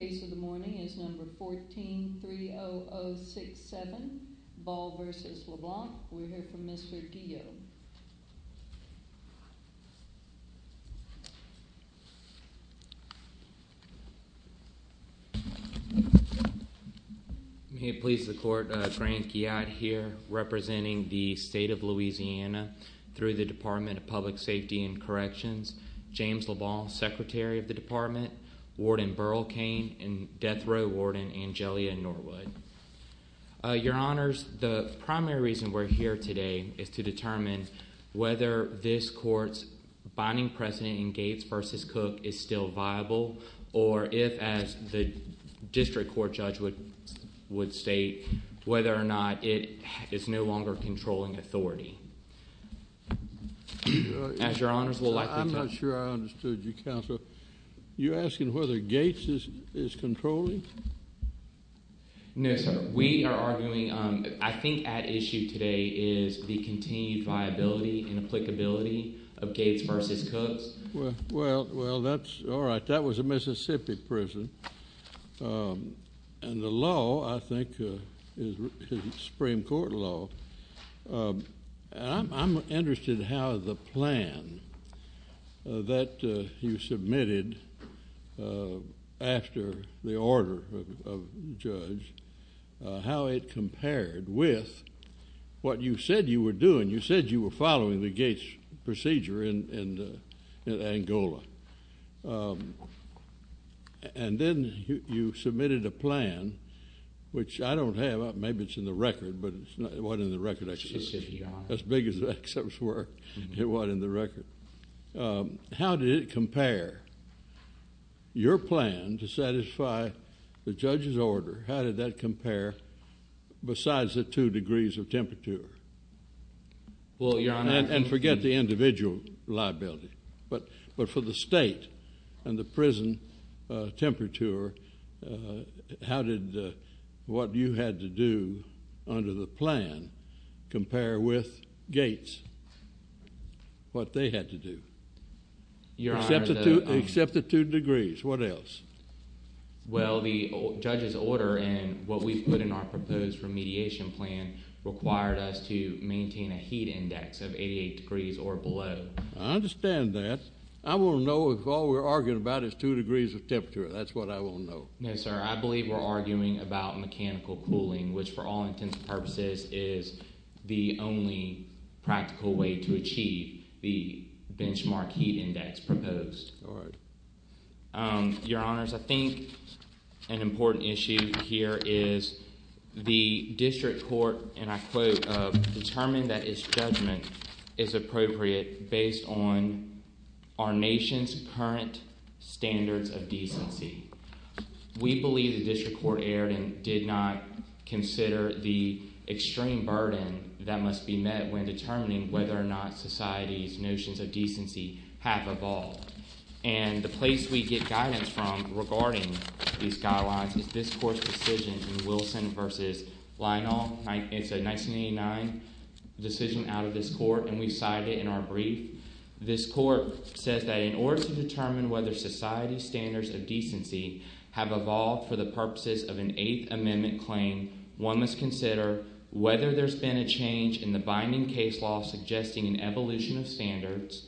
The case of the morning is number 14-30067, Ball v. LeBlanc. We'll hear from Mr. Guillaume. May it please the court, Grant Guyot here, representing the state of Louisiana, through the Department of Public Safety and Corrections. James LeBlanc, Secretary of the Department, Warden Burl Kane, and Death Row Warden Angelia Norwood. Your Honors, the primary reason we're here today is to determine whether this court's binding precedent in Gates v. Cook is still viable, or if, as the district court judge would state, whether or not it is no longer controlling authority. I'm not sure I understood you, Counselor. You're asking whether Gates is controlling? No, sir. We are arguing, I think at issue today is the continued viability and applicability of Gates v. Cook. Well, that's all right. That was a Mississippi prison. And the law, I think, is Supreme Court law. I'm interested how the plan that you submitted after the order of the judge, how it compared with what you said you were doing. The Gates procedure in Angola. And then you submitted a plan, which I don't have. Maybe it's in the record, but it wasn't in the record. Mississippi, Your Honor. As big as the excerpts were, it wasn't in the record. How did it compare? Your plan to satisfy the judge's order, how did that compare besides the two degrees of temperature? Well, Your Honor. And forget the individual liability. But for the state and the prison temperature, how did what you had to do under the plan compare with Gates, what they had to do? Your Honor. Except the two degrees. What else? Well, the judge's order and what we put in our proposed remediation plan required us to maintain a heat index of 88 degrees or below. I understand that. I want to know if all we're arguing about is two degrees of temperature. That's what I want to know. No, sir. I believe we're arguing about mechanical cooling, which for all intents and purposes is the only practical way to achieve the benchmark heat index proposed. All right. Your Honors, I think an important issue here is the district court, and I quote, determined that its judgment is appropriate based on our nation's current standards of decency. We believe the district court erred and did not consider the extreme burden that must be met when determining whether or not society's notions of decency have evolved. And the place we get guidance from regarding these guidelines is this court's decision in Wilson v. Lionel. It's a 1989 decision out of this court, and we cite it in our brief. This court says that in order to determine whether society's standards of decency have evolved for the purposes of an Eighth Amendment claim, one must consider whether there's been a change in the binding case law suggesting an evolution of standards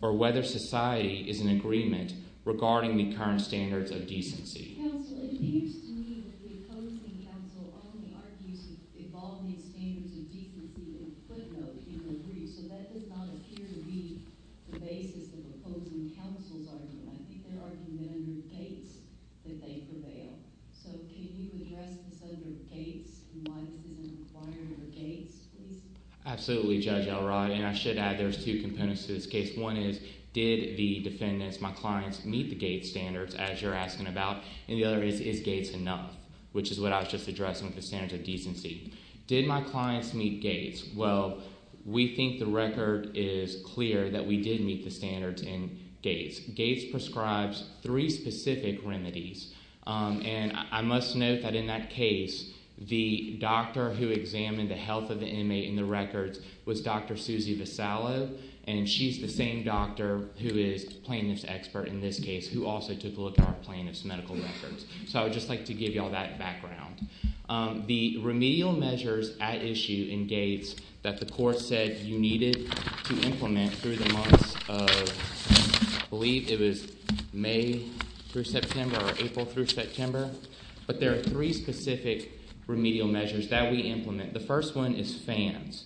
or whether society is in agreement regarding the current standards of decency. Counsel, it appears to me that the opposing counsel only argues evolving standards of decency in a footnote in the brief, so that does not appear to be the basis of opposing counsel's argument. I think they're arguing that under Gates that they prevail. So can you address this under Gates and why this isn't required under Gates, please? Absolutely, Judge Elrod, and I should add there's two components to this case. One is did the defendants, my clients, meet the Gates standards as you're asking about, and the other is is Gates enough, which is what I was just addressing with the standards of decency. Did my clients meet Gates? Well, we think the record is clear that we did meet the standards in Gates. Gates prescribes three specific remedies, and I must note that in that case the doctor who examined the health of the inmate in the records was Dr. Susie Visallo, and she's the same doctor who is plaintiff's expert in this case who also took a look at our plaintiff's medical records. So I would just like to give you all that background. The remedial measures at issue in Gates that the court said you needed to implement through the months of I believe it was May through September or April through September, but there are three specific remedial measures that we implement. The first one is fans.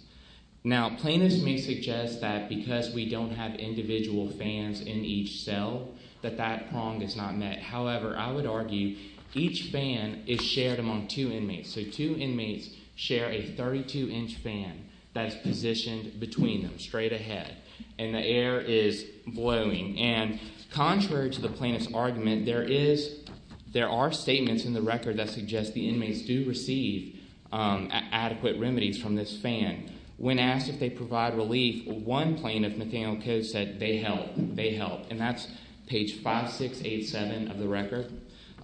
Now, plaintiffs may suggest that because we don't have individual fans in each cell that that prong is not met. However, I would argue each fan is shared among two inmates. So two inmates share a 32-inch fan that is positioned between them straight ahead, and the air is blowing. And contrary to the plaintiff's argument, there are statements in the record that suggest the inmates do receive adequate remedies from this fan. When asked if they provide relief, one plaintiff, Nathaniel Coates, said they help. They help. And that's page 5687 of the record.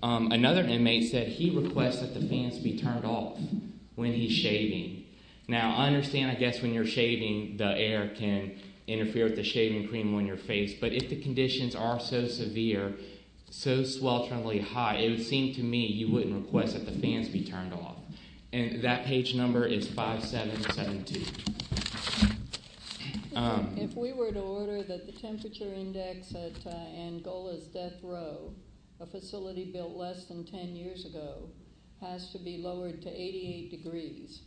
Another inmate said he requests that the fans be turned off when he's shaving. Now, I understand, I guess, when you're shaving, the air can interfere with the shaving cream on your face. But if the conditions are so severe, so swelteringly hot, it would seem to me you wouldn't request that the fans be turned off. And that page number is 5772. If we were to order that the temperature index at Angola's death row, a facility built less than 10 years ago, has to be lowered to 88 degrees,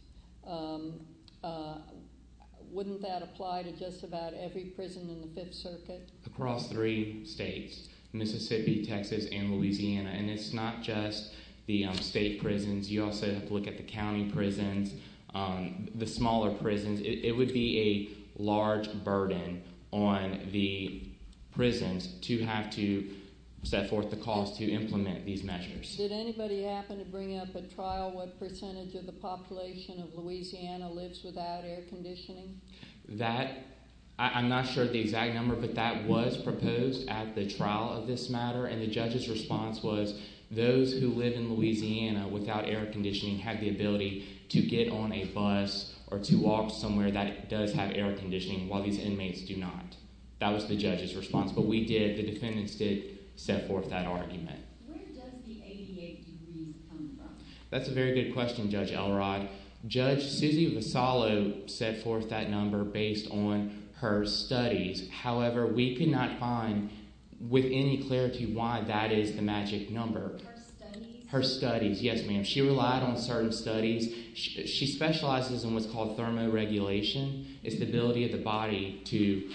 wouldn't that apply to just about every prison in the Fifth Circuit? Across three states. Mississippi, Texas, and Louisiana. And it's not just the state prisons. You also have to look at the county prisons, the smaller prisons. It would be a large burden on the prisons to have to set forth the cause to implement these measures. Did anybody happen to bring up at trial what percentage of the population of Louisiana lives without air conditioning? That, I'm not sure of the exact number, but that was proposed at the trial of this matter. And the judge's response was those who live in Louisiana without air conditioning have the ability to get on a bus or to walk somewhere that does have air conditioning while these inmates do not. That was the judge's response. But we did, the defendants did, set forth that argument. Where does the 88 degrees come from? That's a very good question, Judge Elrod. Judge Susie Visalo set forth that number based on her studies. However, we could not find with any clarity why that is the magic number. Her studies? Her studies, yes ma'am. She relied on certain studies. She specializes in what's called thermoregulation. It's the ability of the body to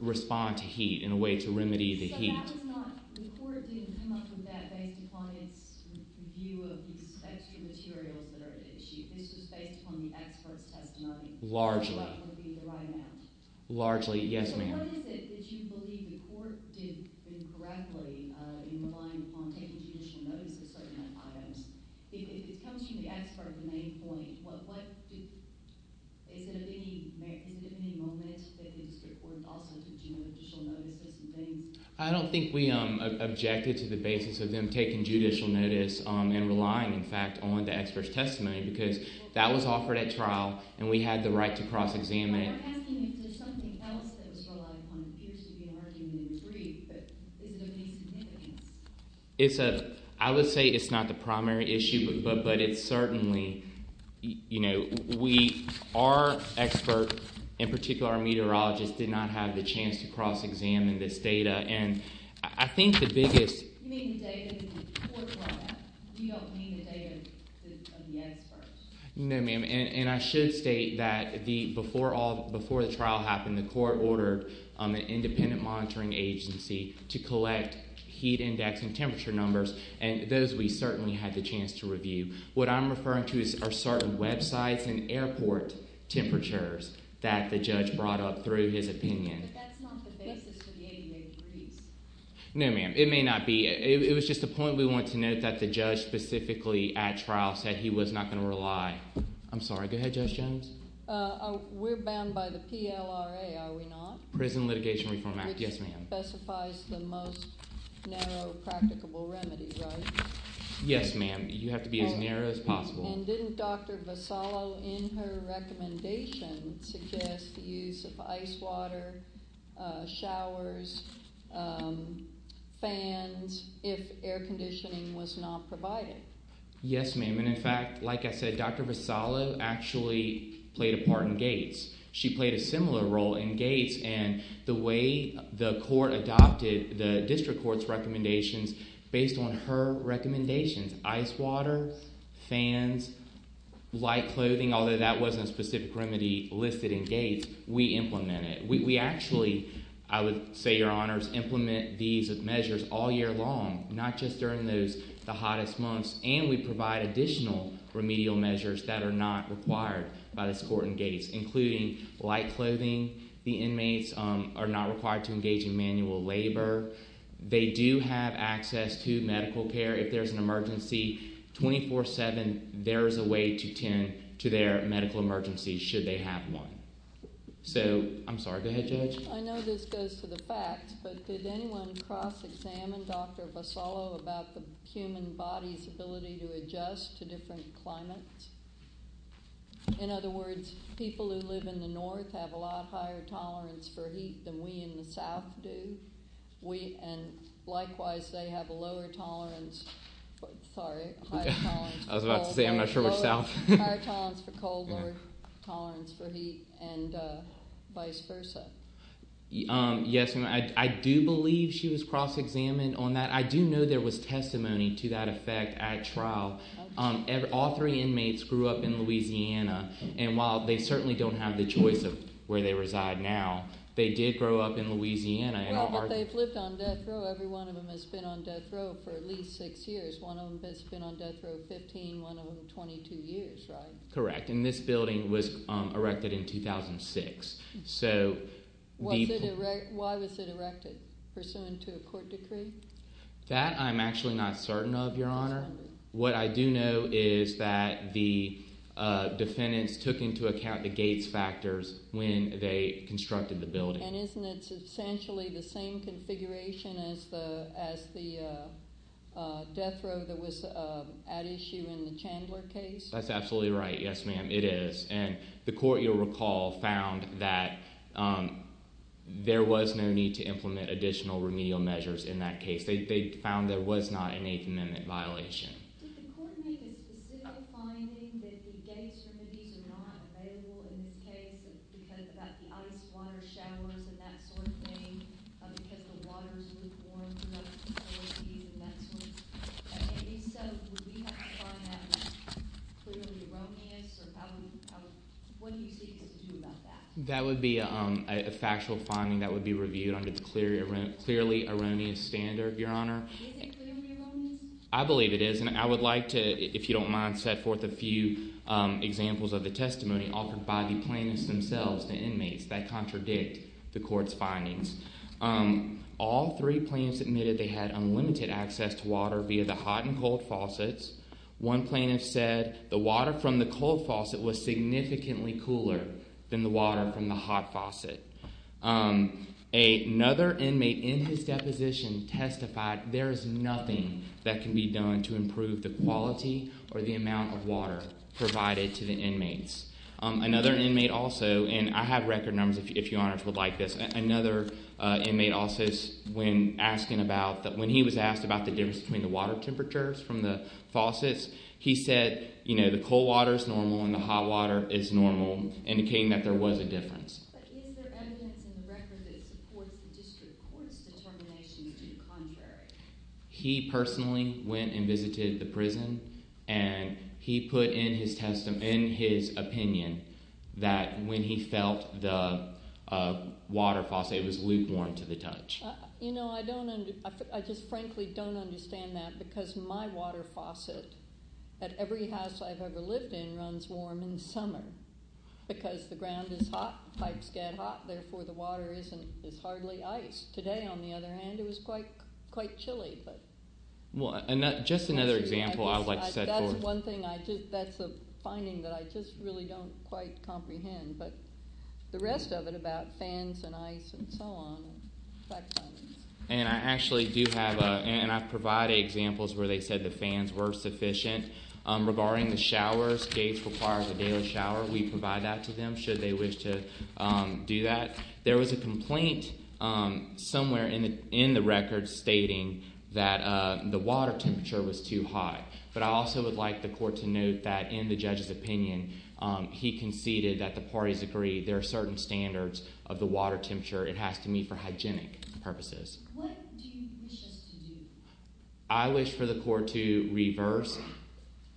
respond to heat in a way to remedy the heat. The court didn't come up with that based upon its view of the expected materials that are at issue. This was based upon the expert's testimony. Largely. Or what would be the right amount? Largely, yes ma'am. So what is it that you believe the court did incorrectly in relying upon taking judicial notice of certain items? If it comes to the expert's main point, is there any moment that the district court also took judicial notice of certain things? I don't think we objected to the basis of them taking judicial notice and relying, in fact, on the expert's testimony because that was offered at trial and we had the right to cross-examine. I'm asking if there's something else that was relied upon. It appears to be an argument in the brief, but is there any significance? I would say it's not the primary issue, but it's certainly – our expert, in particular our meteorologist, did not have the chance to cross-examine this data. I think the biggest – You mean the data that the court brought back? You don't mean the data of the expert? No, ma'am, and I should state that before the trial happened, the court ordered an independent monitoring agency to collect heat index and temperature numbers, and those we certainly had the chance to review. What I'm referring to are certain websites and airport temperatures that the judge brought up through his opinion. But that's not the basis for the ADA freeze. No, ma'am. It may not be. It was just a point we wanted to note that the judge specifically at trial said he was not going to rely. I'm sorry. Go ahead, Judge Jones. We're bound by the PLRA, are we not? Prison Litigation Reform Act, yes, ma'am. Which specifies the most narrow practicable remedy, right? Yes, ma'am. You have to be as narrow as possible. And didn't Dr. Vasallo in her recommendation suggest the use of ice water, showers, fans if air conditioning was not provided? Yes, ma'am, and in fact, like I said, Dr. Vasallo actually played a part in gates. She played a similar role in gates, and the way the court adopted the district court's recommendations based on her recommendations, ice water, fans, light clothing, although that wasn't a specific remedy listed in gates, we implemented it. We actually, I would say, Your Honors, implement these measures all year long, not just during the hottest months, and we provide additional remedial measures that are not required by this court in gates, including light clothing. The inmates are not required to engage in manual labor. They do have access to medical care if there's an emergency. 24-7, there is a way to tend to their medical emergencies should they have one. So, I'm sorry, go ahead, Judge. I know this goes to the facts, but did anyone cross-examine Dr. Vasallo about the human body's ability to adjust to different climates? In other words, people who live in the north have a lot higher tolerance for heat than we in the south do. And likewise, they have a lower tolerance for—sorry, higher tolerance for— I was about to say I'm not sure which south. Higher tolerance for cold, lower tolerance for heat, and vice versa. Yes, and I do believe she was cross-examined on that. I do know there was testimony to that effect at trial. All three inmates grew up in Louisiana, and while they certainly don't have the choice of where they reside now, they did grow up in Louisiana. Well, but they've lived on death row. Every one of them has been on death row for at least six years. One of them has been on death row 15, one of them 22 years, right? Correct, and this building was erected in 2006. Why was it erected? Pursuant to a court decree? That I'm actually not certain of, Your Honor. What I do know is that the defendants took into account the Gates factors when they constructed the building. And isn't it essentially the same configuration as the death row that was at issue in the Chandler case? That's absolutely right. Yes, ma'am, it is. And the court, you'll recall, found that there was no need to implement additional remedial measures in that case. They found there was not an Eighth Amendment violation. Did the court make a specific finding that the Gates remedies are not available in this case because of the ice, water, showers, and that sort of thing? Because the water is lukewarm? And if so, would we have to find that clearly erroneous? What do you seek us to do about that? That would be a factual finding that would be reviewed under its clearly erroneous standard, Your Honor. Is it clearly erroneous? I believe it is, and I would like to, if you don't mind, set forth a few examples of the testimony offered by the plaintiffs themselves, the inmates, that contradict the court's findings. All three plaintiffs admitted they had unlimited access to water via the hot and cold faucets. One plaintiff said the water from the cold faucet was significantly cooler than the water from the hot faucet. Another inmate in his deposition testified there is nothing that can be done to improve the quality or the amount of water provided to the inmates. Another inmate also, and I have record numbers if Your Honors would like this. Another inmate also, when he was asked about the difference between the water temperatures from the faucets, he said the cold water is normal and the hot water is normal, indicating that there was a difference. But is there evidence in the record that supports the district court's determination to do the contrary? He personally went and visited the prison, and he put in his testimony, in his opinion, that when he felt the water faucet, it was lukewarm to the touch. You know, I don't – I just frankly don't understand that because my water faucet at every house I've ever lived in runs warm in the summer because the ground is hot, pipes get hot, therefore the water is hardly ice. Today, on the other hand, it was quite chilly. Well, just another example I would like to set forth. That's a finding that I just really don't quite comprehend, but the rest of it about fans and ice and so on. And I actually do have – and I provide examples where they said the fans were sufficient. Regarding the showers, gates require a daily shower. We provide that to them should they wish to do that. There was a complaint somewhere in the record stating that the water temperature was too high. But I also would like the court to note that in the judge's opinion, he conceded that the parties agreed there are certain standards of the water temperature. It has to meet for hygienic purposes. What do you wish us to do? I wish for the court to reverse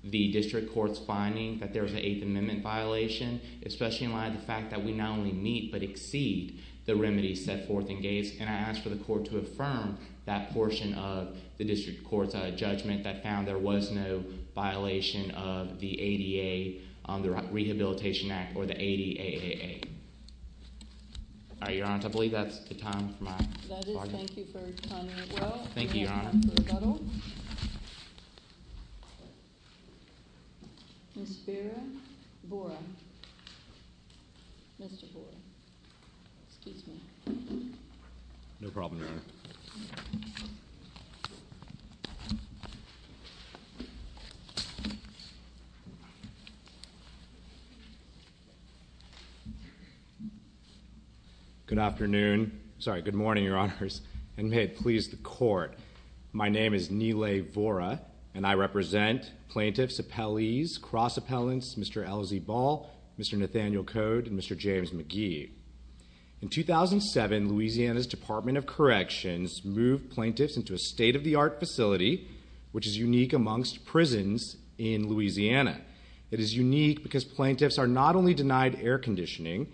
the district court's finding that there was an Eighth Amendment violation, especially in light of the fact that we not only meet but exceed the remedies set forth in Gates. And I ask for the court to affirm that portion of the district court's judgment that found there was no violation of the ADA, the Rehabilitation Act, or the ADAAA. All right, Your Honor, I believe that's the time for my – That is. Thank you for timing it well. Thank you, Your Honor. We have time for rebuttal. Ms. Vera Bora. Mr. Bora. No problem, Your Honor. Good afternoon. Sorry, good morning, Your Honors. And may it please the court, my name is Nile Bora, and I represent plaintiffs, appellees, cross appellants, Mr. LZ Ball, Mr. Nathaniel Code, and Mr. James McGee. In 2007, Louisiana's Department of Corrections moved plaintiffs into a state-of-the-art facility, which is unique amongst prisons in Louisiana. It is unique because plaintiffs are not only denied air conditioning,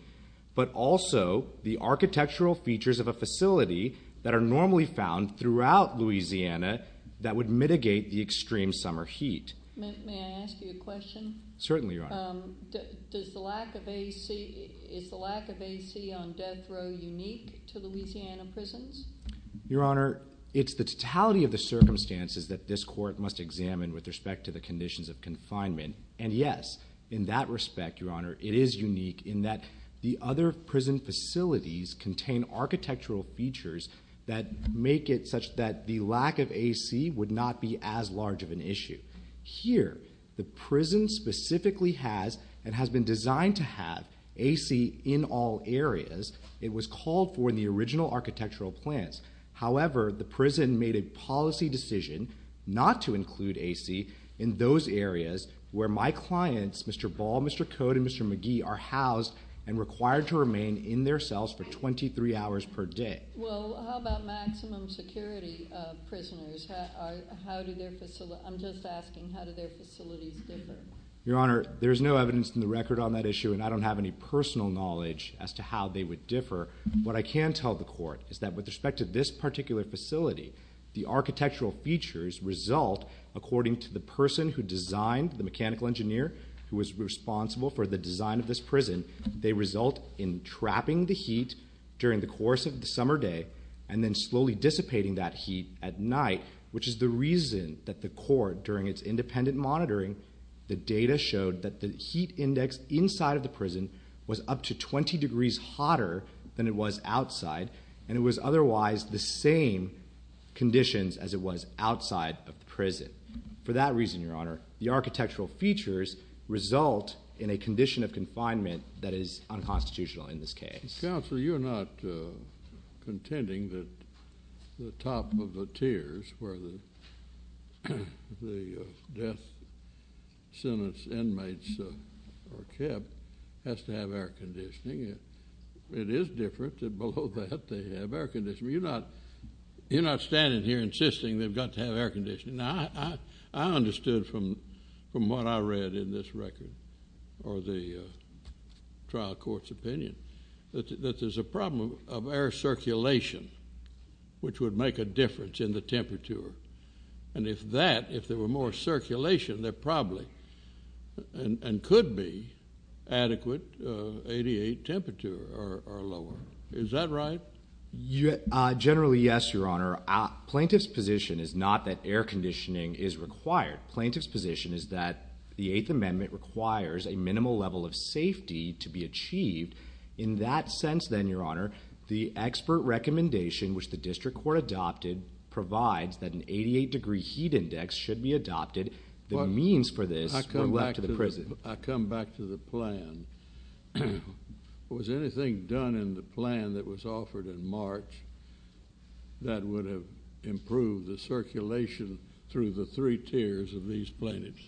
but also the architectural features of a facility that are normally found throughout Louisiana that would mitigate the extreme summer heat. May I ask you a question? Certainly, Your Honor. Does the lack of AC – is the lack of AC on death row unique to Louisiana prisons? Your Honor, it's the totality of the circumstances that this court must examine with respect to the conditions of confinement. And yes, in that respect, Your Honor, it is unique in that the other prison facilities contain architectural features that make it such that the lack of AC would not be as large of an issue. Here, the prison specifically has and has been designed to have AC in all areas. It was called for in the original architectural plans. However, the prison made a policy decision not to include AC in those areas where my clients, Mr. Ball, Mr. Code, and Mr. McGee, are housed and required to remain in their cells for 23 hours per day. Well, how about maximum security prisoners? How do their – I'm just asking how do their facilities differ? Your Honor, there is no evidence in the record on that issue, and I don't have any personal knowledge as to how they would differ. What I can tell the court is that with respect to this particular facility, the architectural features result, according to the person who designed, the mechanical engineer who was responsible for the design of this prison, they result in trapping the heat during the course of the summer day and then slowly dissipating that heat at night, which is the reason that the court, during its independent monitoring, the data showed that the heat index inside of the prison was up to 20 degrees hotter than it was outside, and it was otherwise the same conditions as it was outside of the prison. For that reason, Your Honor, the architectural features result in a condition of confinement that is unconstitutional in this case. Counsel, you're not contending that the top of the tiers where the death sentence inmates are kept has to have air conditioning. It is different that below that they have air conditioning. You're not standing here insisting they've got to have air conditioning. Now, I understood from what I read in this record or the trial court's opinion that there's a problem of air circulation, which would make a difference in the temperature, and if that, if there were more circulation, there probably and could be adequate 88 temperature or lower. Is that right? Generally, yes, Your Honor. Plaintiff's position is not that air conditioning is required. Plaintiff's position is that the Eighth Amendment requires a minimal level of safety to be achieved. In that sense, then, Your Honor, the expert recommendation, which the district court adopted, provides that an 88 degree heat index should be adopted. The means for this were left to the prison. I come back to the plan. Was anything done in the plan that was offered in March that would have improved the circulation through the three tiers of these plaintiffs?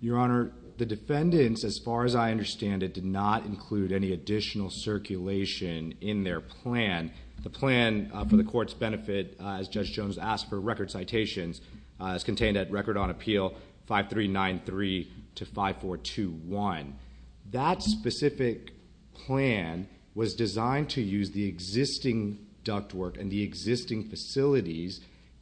Your Honor, the defendants, as far as I understand it, did not include any additional circulation in their plan. The plan for the court's benefit, as Judge Jones asked for record citations, is contained at Record on Appeal 5393 to 5421. That specific plan was designed to use the existing ductwork and the existing facilities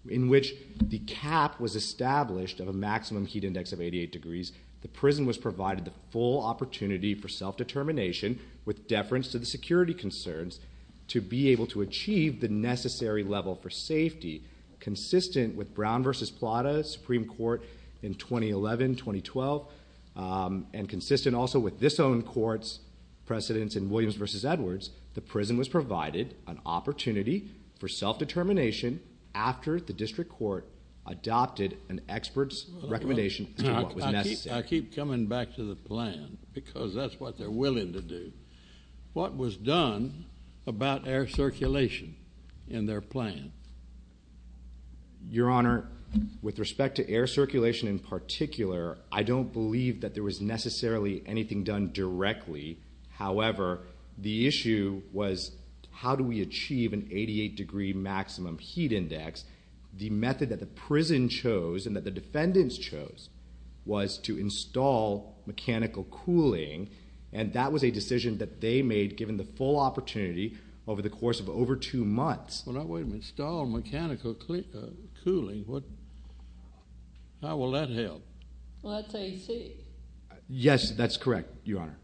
in which the cap was established of a maximum heat index of 88 degrees. The prison was provided the full opportunity for self-determination with deference to the security concerns to be able to achieve the necessary level for safety. Consistent with Brown v. Plata Supreme Court in 2011, 2012, and consistent also with this own court's precedence in Williams v. Edwards, the prison was provided an opportunity for self-determination after the district court adopted an expert's recommendation as to what was necessary. I keep coming back to the plan because that's what they're willing to do. What was done about air circulation in their plan? Your Honor, with respect to air circulation in particular, I don't believe that there was necessarily anything done directly. However, the issue was how do we achieve an 88-degree maximum heat index? The method that the prison chose and that the defendants chose was to install mechanical cooling, and that was a decision that they made given the full opportunity over the course of over two months. Well, now, wait a minute. Install mechanical cooling? How will that help? Well, that's AC. Yes, that's correct, Your Honor.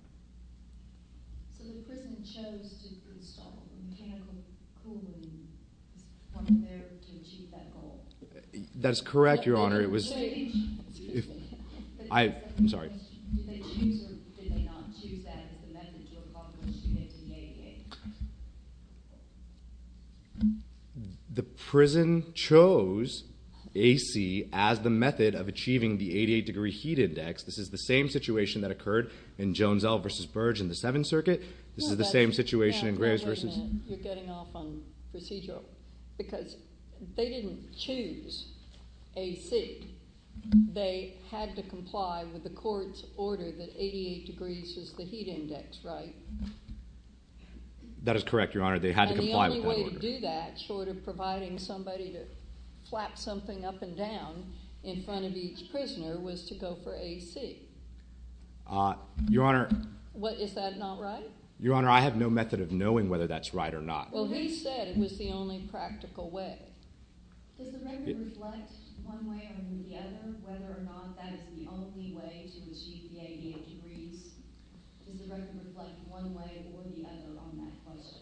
So the prison chose to install mechanical cooling to achieve that goal? That's correct, Your Honor. I'm sorry. Did they choose or did they not choose that as the method to accomplish the 88? The prison chose AC as the method of achieving the 88-degree heat index. This is the same situation that occurred in Jones L v. Burge in the Seventh Circuit. This is the same situation in Graves v. You're getting off on procedural because they didn't choose AC. They had to comply with the court's order that 88 degrees was the heat index, right? That is correct, Your Honor. They had to comply with that order. And the only way to do that short of providing somebody to flap something up and down in front of each prisoner was to go for AC? Your Honor. Is that not right? Your Honor, I have no method of knowing whether that's right or not. Well, who said it was the only practical way? Does the record reflect one way or the other whether or not that is the only way to achieve the 88 degrees? Does the record reflect one way or the other on that question?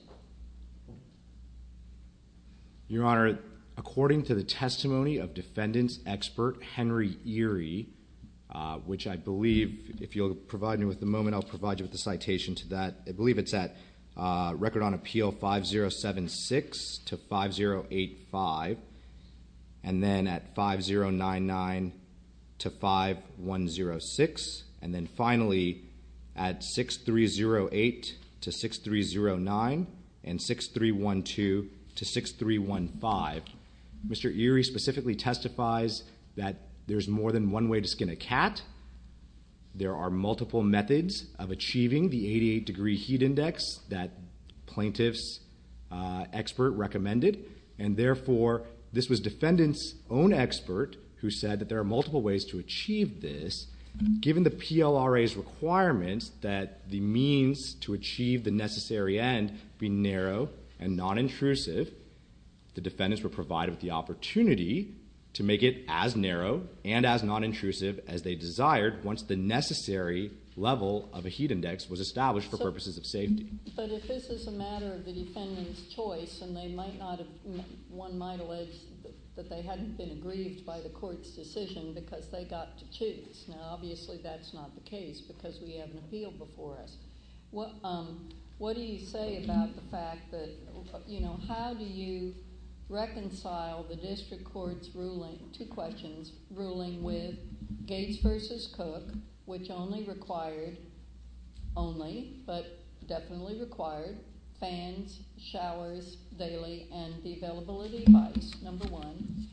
Your Honor, according to the testimony of defendant's expert, Henry Eery, which I believe, if you'll provide me with the moment, I'll provide you with the citation to that. I believe it's at Record on Appeal 5076 to 5085. And then at 5099 to 5106. And then finally, at 6308 to 6309 and 6312 to 6315. Mr. Eery specifically testifies that there's more than one way to skin a cat. There are multiple methods of achieving the 88 degree heat index that plaintiff's expert recommended. And therefore, this was defendant's own expert who said that there are multiple ways to achieve this. Given the PLRA's requirements that the means to achieve the necessary end be narrow and non-intrusive, the defendants were provided with the opportunity to make it as narrow and as non-intrusive as they desired once the necessary level of a heat index was established for purposes of safety. But if this is a matter of the defendant's choice, and they might not have, one might allege that they hadn't been aggrieved by the court's decision because they got to choose. Now obviously that's not the case because we have an appeal before us. What do you say about the fact that, you know, how do you reconcile the district court's ruling, two questions, ruling with Gates versus Cook, which only required, only, but definitely required, fans, showers, daily, and the availability device, number one.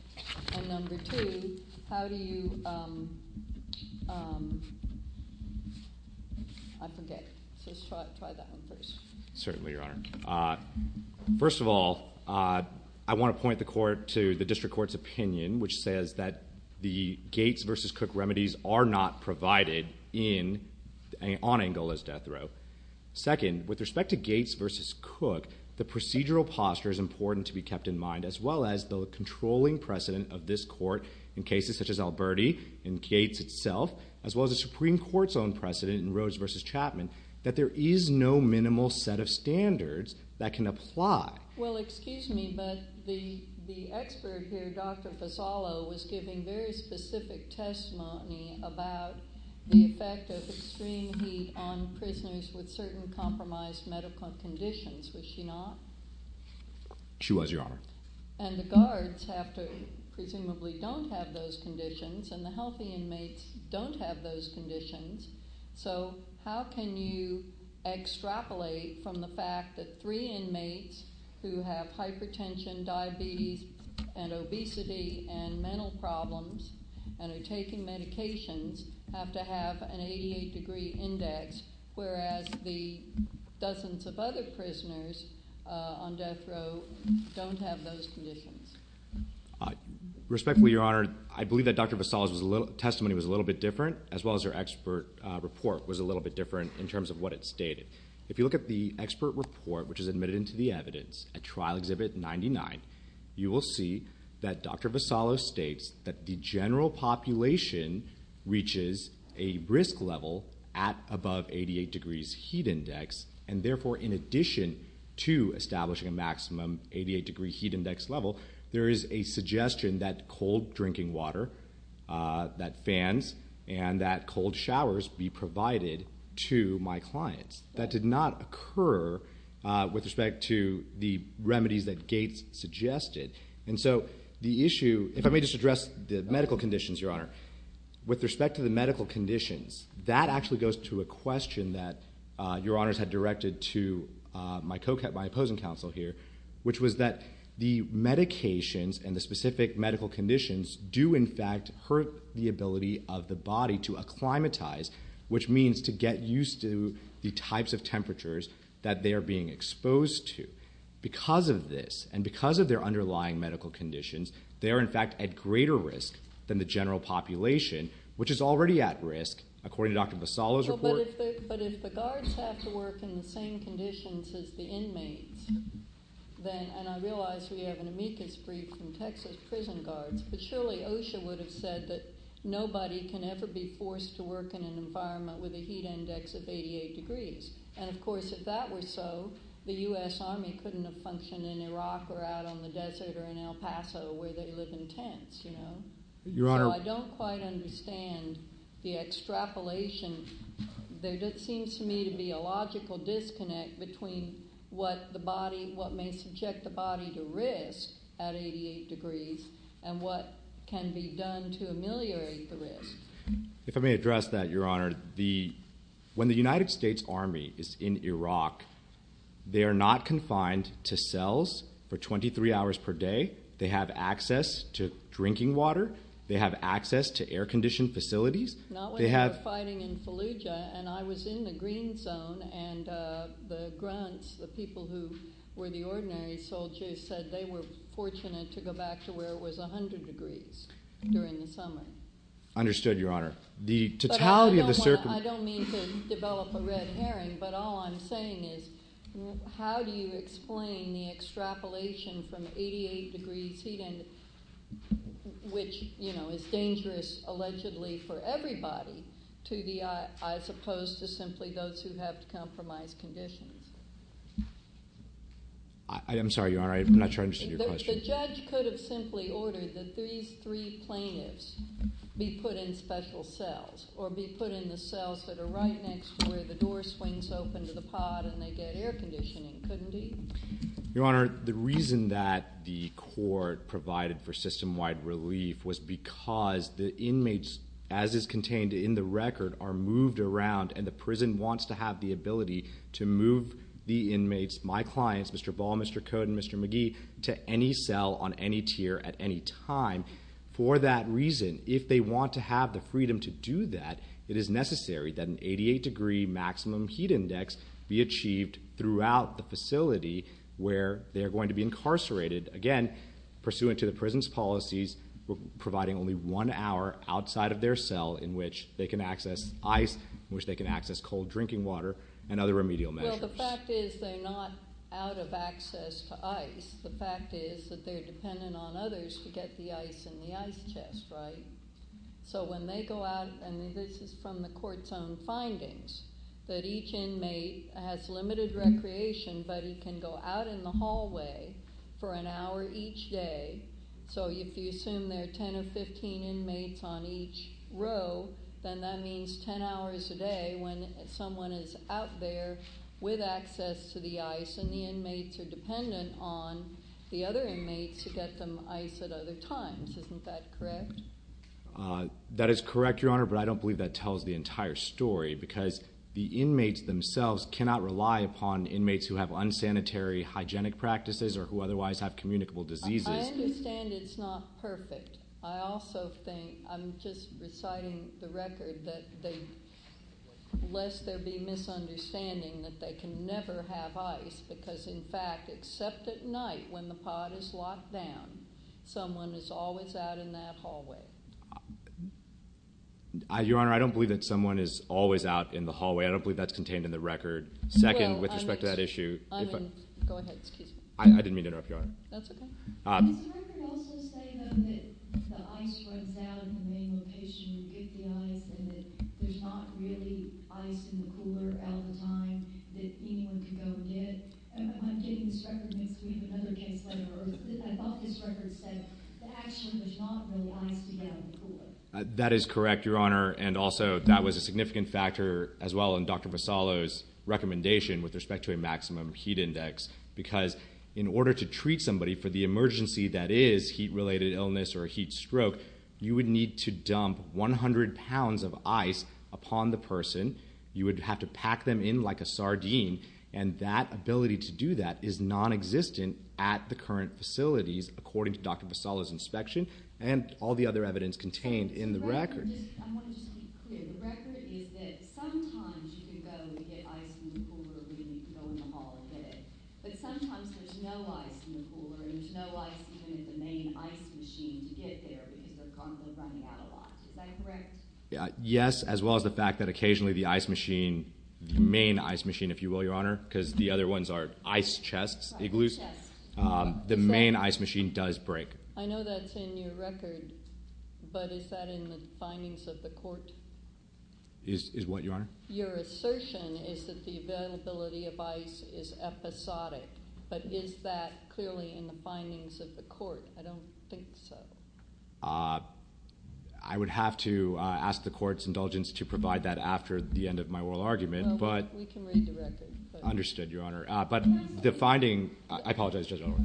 And number two, how do you, I forget, so let's try that one first. Certainly, Your Honor. First of all, I want to point the court to the district court's opinion, which says that the Gates versus Cook remedies are not provided on Angola's death row. Second, with respect to Gates versus Cook, the procedural posture is important to be kept in mind, as well as the controlling precedent of this court in cases such as Alberti and Gates itself, as well as the Supreme Court's own precedent in Rhodes versus Chapman, that there is no minimal set of standards that can apply. Well, excuse me, but the expert here, Dr. Fasalo, was giving very specific testimony about the effect of extreme heat on prisoners with certain compromised medical conditions. Was she not? And the guards have to presumably don't have those conditions, and the healthy inmates don't have those conditions, so how can you extrapolate from the fact that three inmates who have hypertension, diabetes, and obesity, and mental problems, and are taking medications, have to have an 88 degree index, whereas the dozens of other prisoners on death row don't have those conditions? Respectfully, Your Honor, I believe that Dr. Fasalo's testimony was a little bit different, as well as her expert report was a little bit different in terms of what it stated. If you look at the expert report, which is admitted into the evidence, at Trial Exhibit 99, you will see that Dr. Fasalo states that the general population reaches a risk level at above 88 degrees heat index, and therefore, in addition to establishing a maximum 88 degree heat index level, there is a suggestion that cold drinking water, that fans, and that cold showers be provided to my clients. That did not occur with respect to the remedies that Gates suggested. And so the issue, if I may just address the medical conditions, Your Honor. With respect to the medical conditions, that actually goes to a question that Your Honors had directed to my opposing counsel here, which was that the medications and the specific medical conditions do, in fact, hurt the ability of the body to acclimatize, which means to get used to the types of temperatures that they are being exposed to. Because of this, and because of their underlying medical conditions, they are, in fact, at greater risk than the general population, which is already at risk, according to Dr. Fasalo's report. But if the guards have to work in the same conditions as the inmates, then – and I realize we have an amicus brief from Texas prison guards, but surely OSHA would have said that nobody can ever be forced to work in an environment with a heat index of 88 degrees. And, of course, if that were so, the U.S. Army couldn't have functioned in Iraq or out on the desert or in El Paso where they live in tents. So I don't quite understand the extrapolation. There just seems to me to be a logical disconnect between what the body – what may subject the body to risk at 88 degrees and what can be done to ameliorate the risk. If I may address that, Your Honor, when the United States Army is in Iraq, they are not confined to cells for 23 hours per day. They have access to drinking water. They have access to air-conditioned facilities. They have – Not when they're fighting in Fallujah, and I was in the green zone, and the grunts, the people who were the ordinary soldiers, said they were fortunate to go back to where it was 100 degrees during the summer. The totality of the – I don't mean to develop a red herring, but all I'm saying is how do you explain the extrapolation from 88 degrees heat, which is dangerous allegedly for everybody, to the – I suppose to simply those who have compromised conditions? I'm sorry, Your Honor. I'm not sure I understood your question. The judge could have simply ordered that these three plaintiffs be put in special cells or be put in the cells that are right next to where the door swings open to the pod and they get air conditioning, couldn't he? Your Honor, the reason that the court provided for system-wide relief was because the inmates, as is contained in the record, are moved around, and the prison wants to have the ability to move the inmates, my clients, Mr. Ball, Mr. Cote, and Mr. McGee, to any cell on any tier at any time. For that reason, if they want to have the freedom to do that, it is necessary that an 88-degree maximum heat index be achieved throughout the facility where they are going to be incarcerated. Again, pursuant to the prison's policies, providing only one hour outside of their cell in which they can access ice, in which they can access cold drinking water, and other remedial measures. Well, the fact is they're not out of access to ice. The fact is that they're dependent on others to get the ice in the ice chest, right? So when they go out, and this is from the court's own findings, that each inmate has limited recreation, but he can go out in the hallway for an hour each day. So if you assume there are 10 or 15 inmates on each row, then that means 10 hours a day when someone is out there with access to the ice, and the inmates are dependent on the other inmates to get them ice at other times. Isn't that correct? That is correct, Your Honor, but I don't believe that tells the entire story because the inmates themselves cannot rely upon inmates who have unsanitary hygienic practices or who otherwise have communicable diseases. I understand it's not perfect. I also think, I'm just reciting the record, that they, lest there be misunderstanding that they can never have ice because, in fact, except at night when the pod is locked down, someone is always out in that hallway. Your Honor, I don't believe that someone is always out in the hallway. I don't believe that's contained in the record. Second, with respect to that issue. Well, I mean, go ahead, excuse me. I didn't mean to interrupt, Your Honor. That's okay. Does the record also say, though, that the ice runs out in the main location and you get the ice and that there's not really ice in the cooler all the time that anyone can go and get? I'm getting this record and it's going to be another case later. I thought this record said that actually there's not really ice to get out of the cooler. That is correct, Your Honor, and also that was a significant factor as well in Dr. Vassallo's recommendation with respect to a maximum heat index because in order to treat somebody for the emergency that is heat-related illness or a heat stroke, you would need to dump 100 pounds of ice upon the person. You would have to pack them in like a sardine, and that ability to do that is nonexistent at the current facilities according to Dr. Vassallo's inspection and all the other evidence contained in the record. I want to just be clear. The record is that sometimes you can go and get ice from the cooler when you can go in the hall and get it, but sometimes there's no ice in the cooler and there's no ice even in the main ice machine to get there because they're constantly running out a lot. Is that correct? Yes, as well as the fact that occasionally the ice machine, the main ice machine, if you will, Your Honor, because the other ones are ice chests, igloos, the main ice machine does break. I know that's in your record, but is that in the findings of the court? Is what, Your Honor? Your assertion is that the availability of ice is episodic, but is that clearly in the findings of the court? I don't think so. I would have to ask the court's indulgence to provide that after the end of my oral argument. We can read the record. But the finding, I apologize, Judge O'Rourke.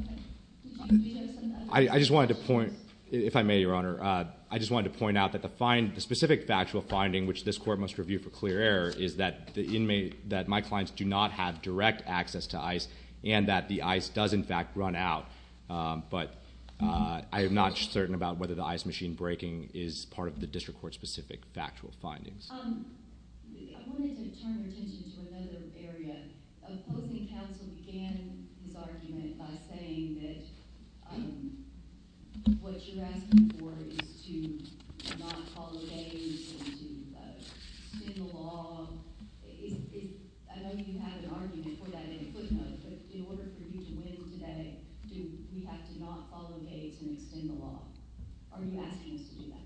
I just wanted to point, if I may, Your Honor, I just wanted to point out that the specific factual finding which this court must review for clear error is that my clients do not have direct access to ice and that the ice does, in fact, run out. But I am not certain about whether the ice machine breaking is part of the district court-specific factual findings. I wanted to turn your attention to another area. Opposing counsel began his argument by saying that what you're asking for is to not follow Gates and to extend the law. I know you had an argument for that in a footnote, but in order for you to win today, do we have to not follow Gates and extend the law? Are you asking us to do that?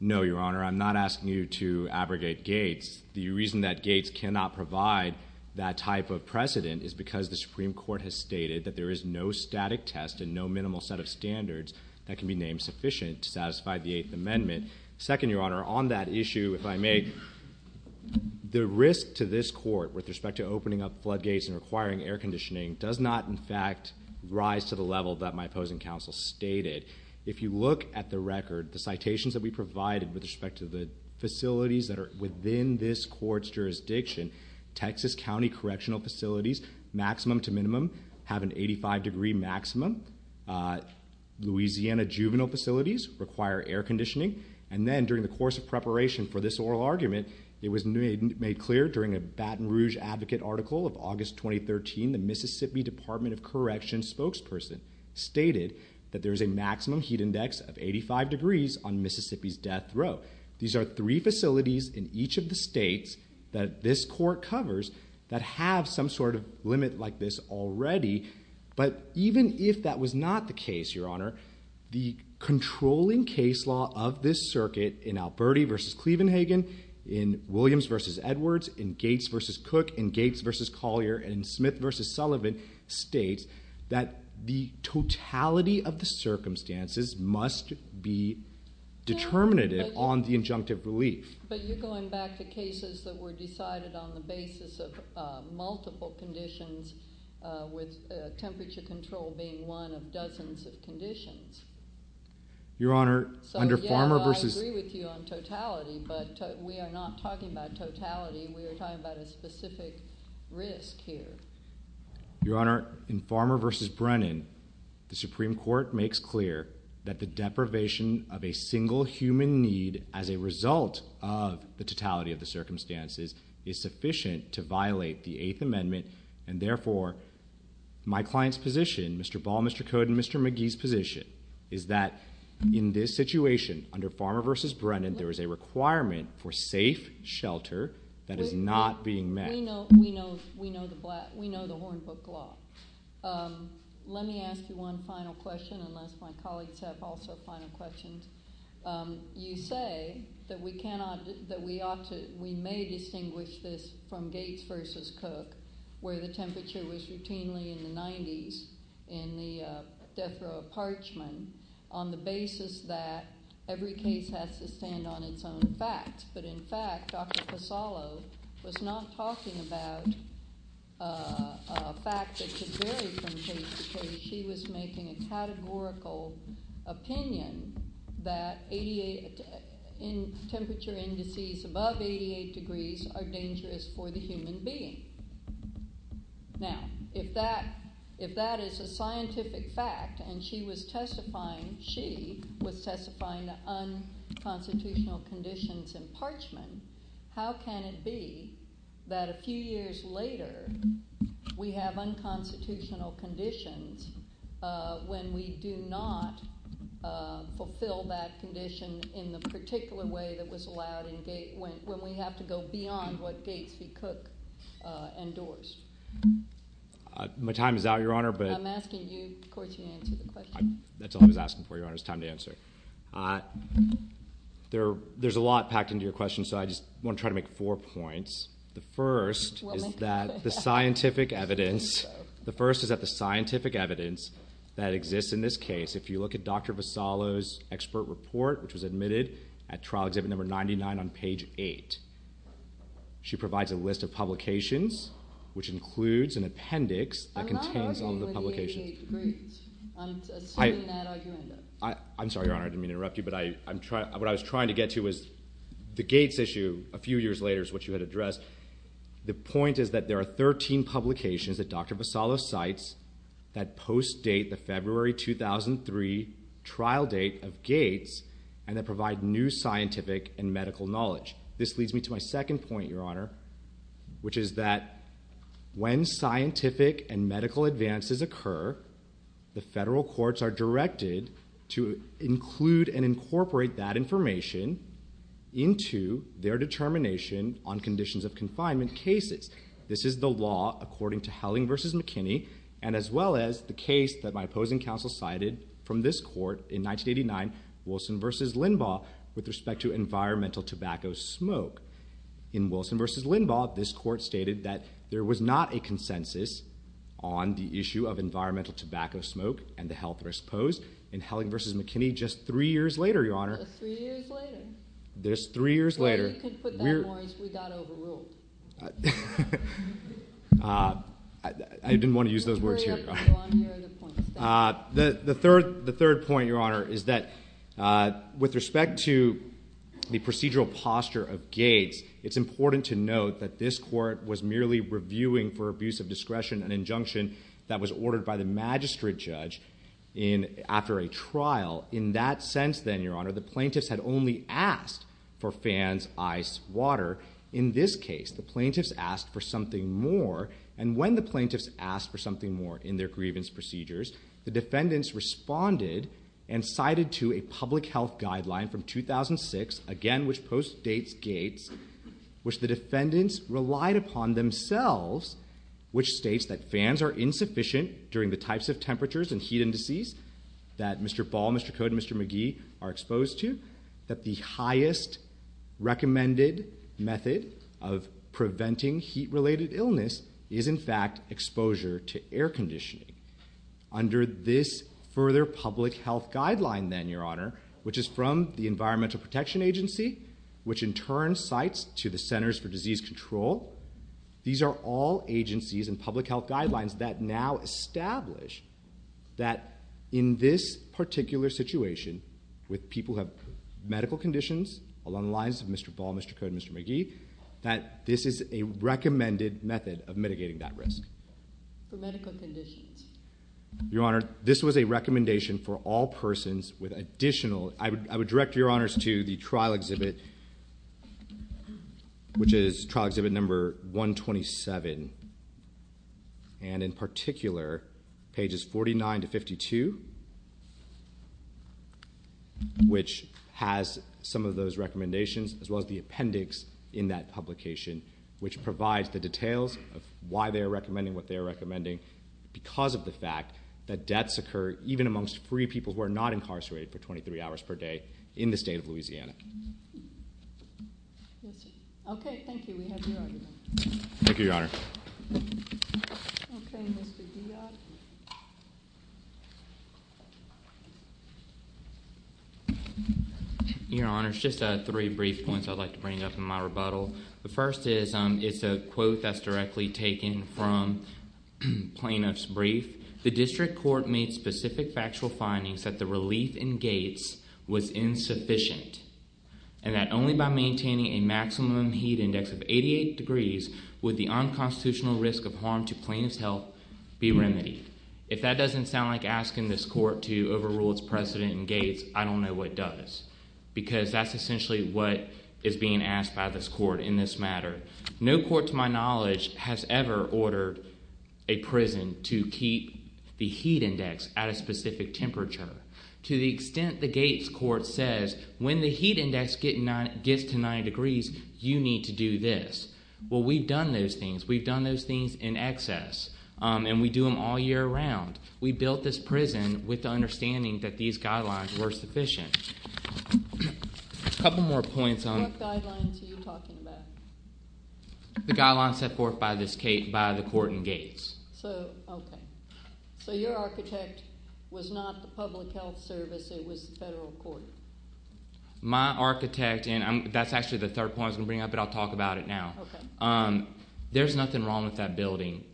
No, Your Honor. I'm not asking you to abrogate Gates. The reason that Gates cannot provide that type of precedent is because the Supreme Court has stated that there is no static test and no minimal set of standards that can be named sufficient to satisfy the Eighth Amendment. Second, Your Honor, on that issue, if I may, the risk to this court with respect to opening up floodgates and requiring air conditioning does not, in fact, rise to the level that my opposing counsel stated. If you look at the record, the citations that we provided with respect to the facilities that are within this court's jurisdiction, Texas County Correctional Facilities, maximum to minimum, have an 85 degree maximum. Louisiana Juvenile Facilities require air conditioning. And then during the course of preparation for this oral argument, it was made clear during a Baton Rouge Advocate article of August 2013, the Mississippi Department of Correction spokesperson stated that there is a maximum heat index of 85 degrees on Mississippi's death row. These are three facilities in each of the states that this court covers that have some sort of limit like this already. But even if that was not the case, Your Honor, the controlling case law of this circuit in Alberti v. Clevenhagen, in Williams v. Edwards, in Gates v. Cook, in Gates v. Collier, and in Smith v. Sullivan states that the totality of the circumstances must be determinative on the injunctive relief. But you're going back to cases that were decided on the basis of multiple conditions with temperature control being one of dozens of conditions. Your Honor, under Farmer v. I agree with you on totality, but we are not talking about totality. We are talking about a specific risk here. Your Honor, in Farmer v. Brennan, the Supreme Court makes clear that the deprivation of a single human need as a result of the totality of the circumstances is sufficient to violate the Eighth Amendment, and therefore my client's position, Mr. Ball, Mr. Code, and Mr. McGee's position is that in this situation, under Farmer v. Brennan, there is a requirement for safe shelter that is not being met. We know the Hornbook Law. Let me ask you one final question, unless my colleagues have also final questions. You say that we may distinguish this from Gates v. Cook, where the temperature was routinely in the 90s in the death row of Parchman on the basis that every case has to stand on its own facts. But, in fact, Dr. Casalo was not talking about a fact that could vary from case to case. She was making a categorical opinion that temperature indices above 88 degrees are dangerous for the human being. Now, if that is a scientific fact and she was testifying, unconstitutional conditions in Parchman, how can it be that a few years later we have unconstitutional conditions when we do not fulfill that condition in the particular way that was allowed when we have to go beyond what Gates v. Cook endorsed? My time is out, Your Honor. I'm asking you. Of course, you answer the question. That's all I was asking for, Your Honor. It's time to answer. There's a lot packed into your question, so I just want to try to make four points. The first is that the scientific evidence that exists in this case, if you look at Dr. Casalo's expert report, which was admitted at Trial Exhibit No. 99 on page 8, she provides a list of publications, which includes an appendix that contains all the publications. 88 degrees. I'm assuming that argument. I'm sorry, Your Honor. I didn't mean to interrupt you, but what I was trying to get to was the Gates issue a few years later, which you had addressed. The point is that there are 13 publications that Dr. Casalo cites that post-date the February 2003 trial date of Gates and that provide new scientific and medical knowledge. This leads me to my second point, Your Honor, which is that when scientific and medical advances occur, the federal courts are directed to include and incorporate that information into their determination on conditions of confinement cases. This is the law according to Helling v. McKinney and as well as the case that my opposing counsel cited from this court in 1989, Wilson v. Linbaugh, with respect to environmental tobacco smoke. In Wilson v. Linbaugh, this court stated that there was not a consensus on the issue of environmental tobacco smoke and the health risk posed. In Helling v. McKinney, just three years later, Your Honor. Just three years later. Just three years later. You could put that more as we got overruled. I didn't want to use those words here, Your Honor. The third point, Your Honor, is that with respect to the procedural posture of Gates, it's important to note that this court was merely reviewing for abuse of discretion an injunction that was ordered by the magistrate judge after a trial. In that sense then, Your Honor, the plaintiffs had only asked for fans, ice, water. In this case, the plaintiffs asked for something more and when the plaintiffs asked for something more in their grievance procedures, the defendants responded and cited to a public health guideline from 2006, again which postdates Gates, which the defendants relied upon themselves, which states that fans are insufficient during the types of temperatures and heat indices that Mr. Ball, Mr. Code, and Mr. McGee are exposed to, that the highest recommended method of preventing heat-related illness is in fact exposure to air conditioning. Under this further public health guideline then, Your Honor, which is from the Environmental Protection Agency, which in turn cites to the Centers for Disease Control, these are all agencies and public health guidelines that now establish that in this particular situation with people who have medical conditions along the lines of Mr. Ball, Mr. Code, and Mr. McGee, that this is a recommended method of mitigating that risk. For medical conditions. Your Honor, this was a recommendation for all persons with additional, I would direct Your Honors to the trial exhibit, which is trial exhibit number 127, and in particular pages 49 to 52, which has some of those recommendations as well as the appendix in that publication, which provides the details of why they are recommending what they are recommending because of the fact that deaths occur even amongst free people who are not incarcerated for 23 hours per day in the state of Louisiana. Okay. Thank you. We have your argument. Thank you, Your Honor. Okay. Mr. Diod. Your Honors, just three brief points I'd like to bring up in my rebuttal. The first is, it's a quote that's directly taken from plaintiff's brief. The district court made specific factual findings that the relief in Gates was insufficient and that only by maintaining a maximum heat index of 88 degrees would the unconstitutional risk of harm to plaintiff's health be remedied. If that doesn't sound like asking this court to overrule its precedent in Gates, I don't know what does. Because that's essentially what is being asked by this court in this matter. No court to my knowledge has ever ordered a prison to keep the heat index at a specific temperature. To the extent the Gates court says, when the heat index gets to 90 degrees, you need to do this. Well, we've done those things. We've done those things in excess. And we do them all year round. We built this prison with the understanding that these guidelines were sufficient. A couple more points on What guidelines are you talking about? The guidelines set forth by the court in Gates. So, okay. So your architect was not the public health service. It was the federal court. My architect, and that's actually the third point I was going to bring up, but I'll talk about it now. Okay. There's nothing wrong with that building.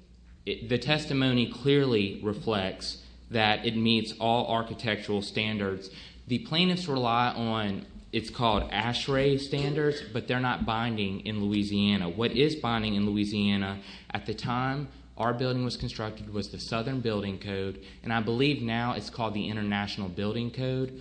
The testimony clearly reflects that it meets all architectural standards. The plaintiffs rely on, it's called ASHRAE standards, but they're not binding in Louisiana. What is binding in Louisiana at the time our building was constructed was the Southern Building Code. And I believe now it's called the International Building Code.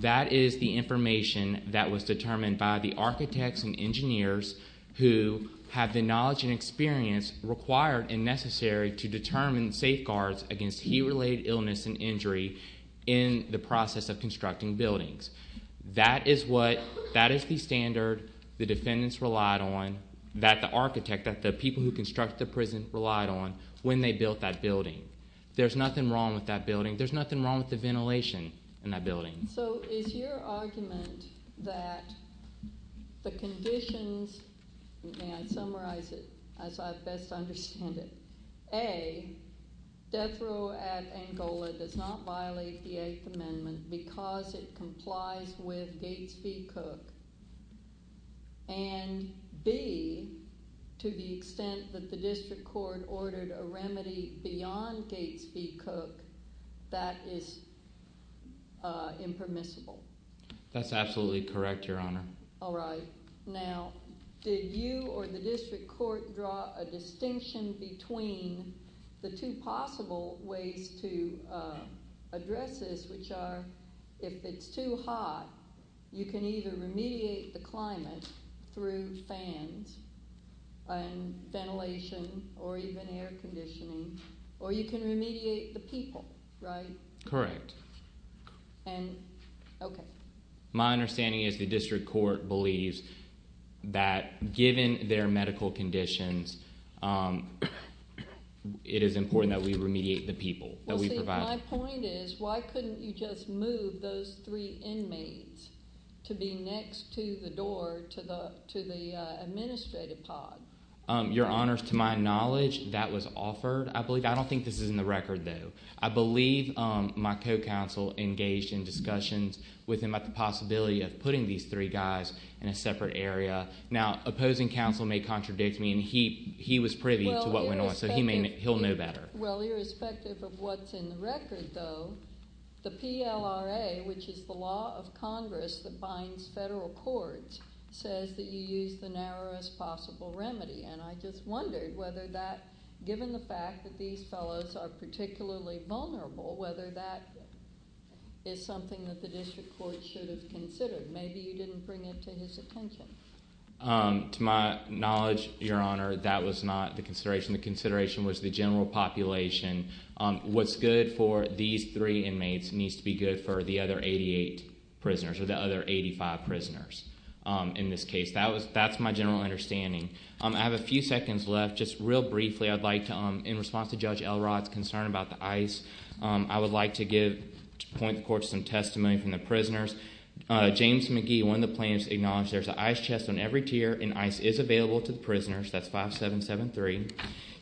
That is the information that was determined by the architects and engineers who have the knowledge and experience required and necessary to determine safeguards against heat-related illness and injury in the process of constructing buildings. That is what, that is the standard the defendants relied on, that the architect, that the people who construct the prison relied on when they built that building. There's nothing wrong with that building. There's nothing wrong with the ventilation in that building. So is your argument that the conditions, may I summarize it as I best understand it, A, death row at Angola does not violate the Eighth Amendment because it complies with Gates v. Cook, and B, to the extent that the district court ordered a remedy beyond Gates v. Cook, that is impermissible? That's absolutely correct, Your Honor. All right. Now, did you or the district court draw a distinction between the two possible ways to address this, which are, if it's too hot, you can either remediate the climate through fans and ventilation or even air conditioning, or you can remediate the people, right? Correct. And, okay. My understanding is the district court believes that given their medical conditions, it is important that we remediate the people that we provide. My point is, why couldn't you just move those three inmates to be next to the door to the administrative pod? Your Honor, to my knowledge, that was offered. I don't think this is in the record, though. I believe my co-counsel engaged in discussions with him about the possibility of putting these three guys in a separate area. Now, opposing counsel may contradict me, and he was privy to what went on, so he'll know better. Well, irrespective of what's in the record, though, the PLRA, which is the law of Congress that binds federal courts, says that you use the narrowest possible remedy, and I just wondered whether that, given the fact that these fellows are particularly vulnerable, whether that is something that the district court should have considered. Maybe you didn't bring it to his attention. To my knowledge, Your Honor, that was not the consideration. The consideration was the general population. What's good for these three inmates needs to be good for the other 88 prisoners, or the other 85 prisoners in this case. That's my general understanding. I have a few seconds left. Just real briefly, I'd like to, in response to Judge Elrod's concern about the ICE, I would like to point the court to some testimony from the prisoners. James McGee, one of the plaintiffs, acknowledged there's an ICE chest on every tier, and ICE is available to the prisoners. That's 5773.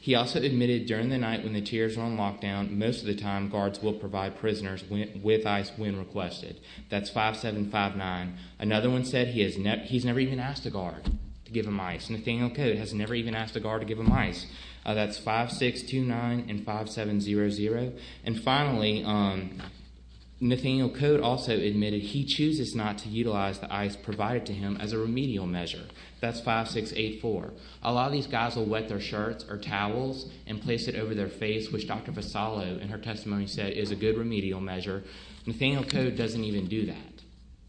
He also admitted during the night when the tiers are on lockdown, most of the time guards will provide prisoners with ICE when requested. That's 5759. Another one said he's never even asked a guard to give him ICE. Nathaniel Cote has never even asked a guard to give him ICE. That's 5629 and 5700. And finally, Nathaniel Cote also admitted he chooses not to utilize the ICE provided to him as a remedial measure. That's 5684. A lot of these guys will wet their shirts or towels and place it over their face, which Dr. Vasallo, in her testimony, said is a good remedial measure. Nathaniel Cote doesn't even do that.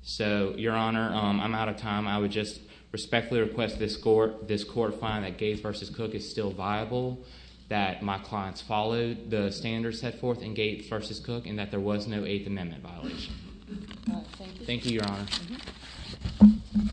So, Your Honor, I'm out of time. I would just respectfully request this court find that Gates v. Cook is still viable, that my clients followed the standards set forth in Gates v. Cook, and that there was no Eighth Amendment violation. Thank you, Your Honor.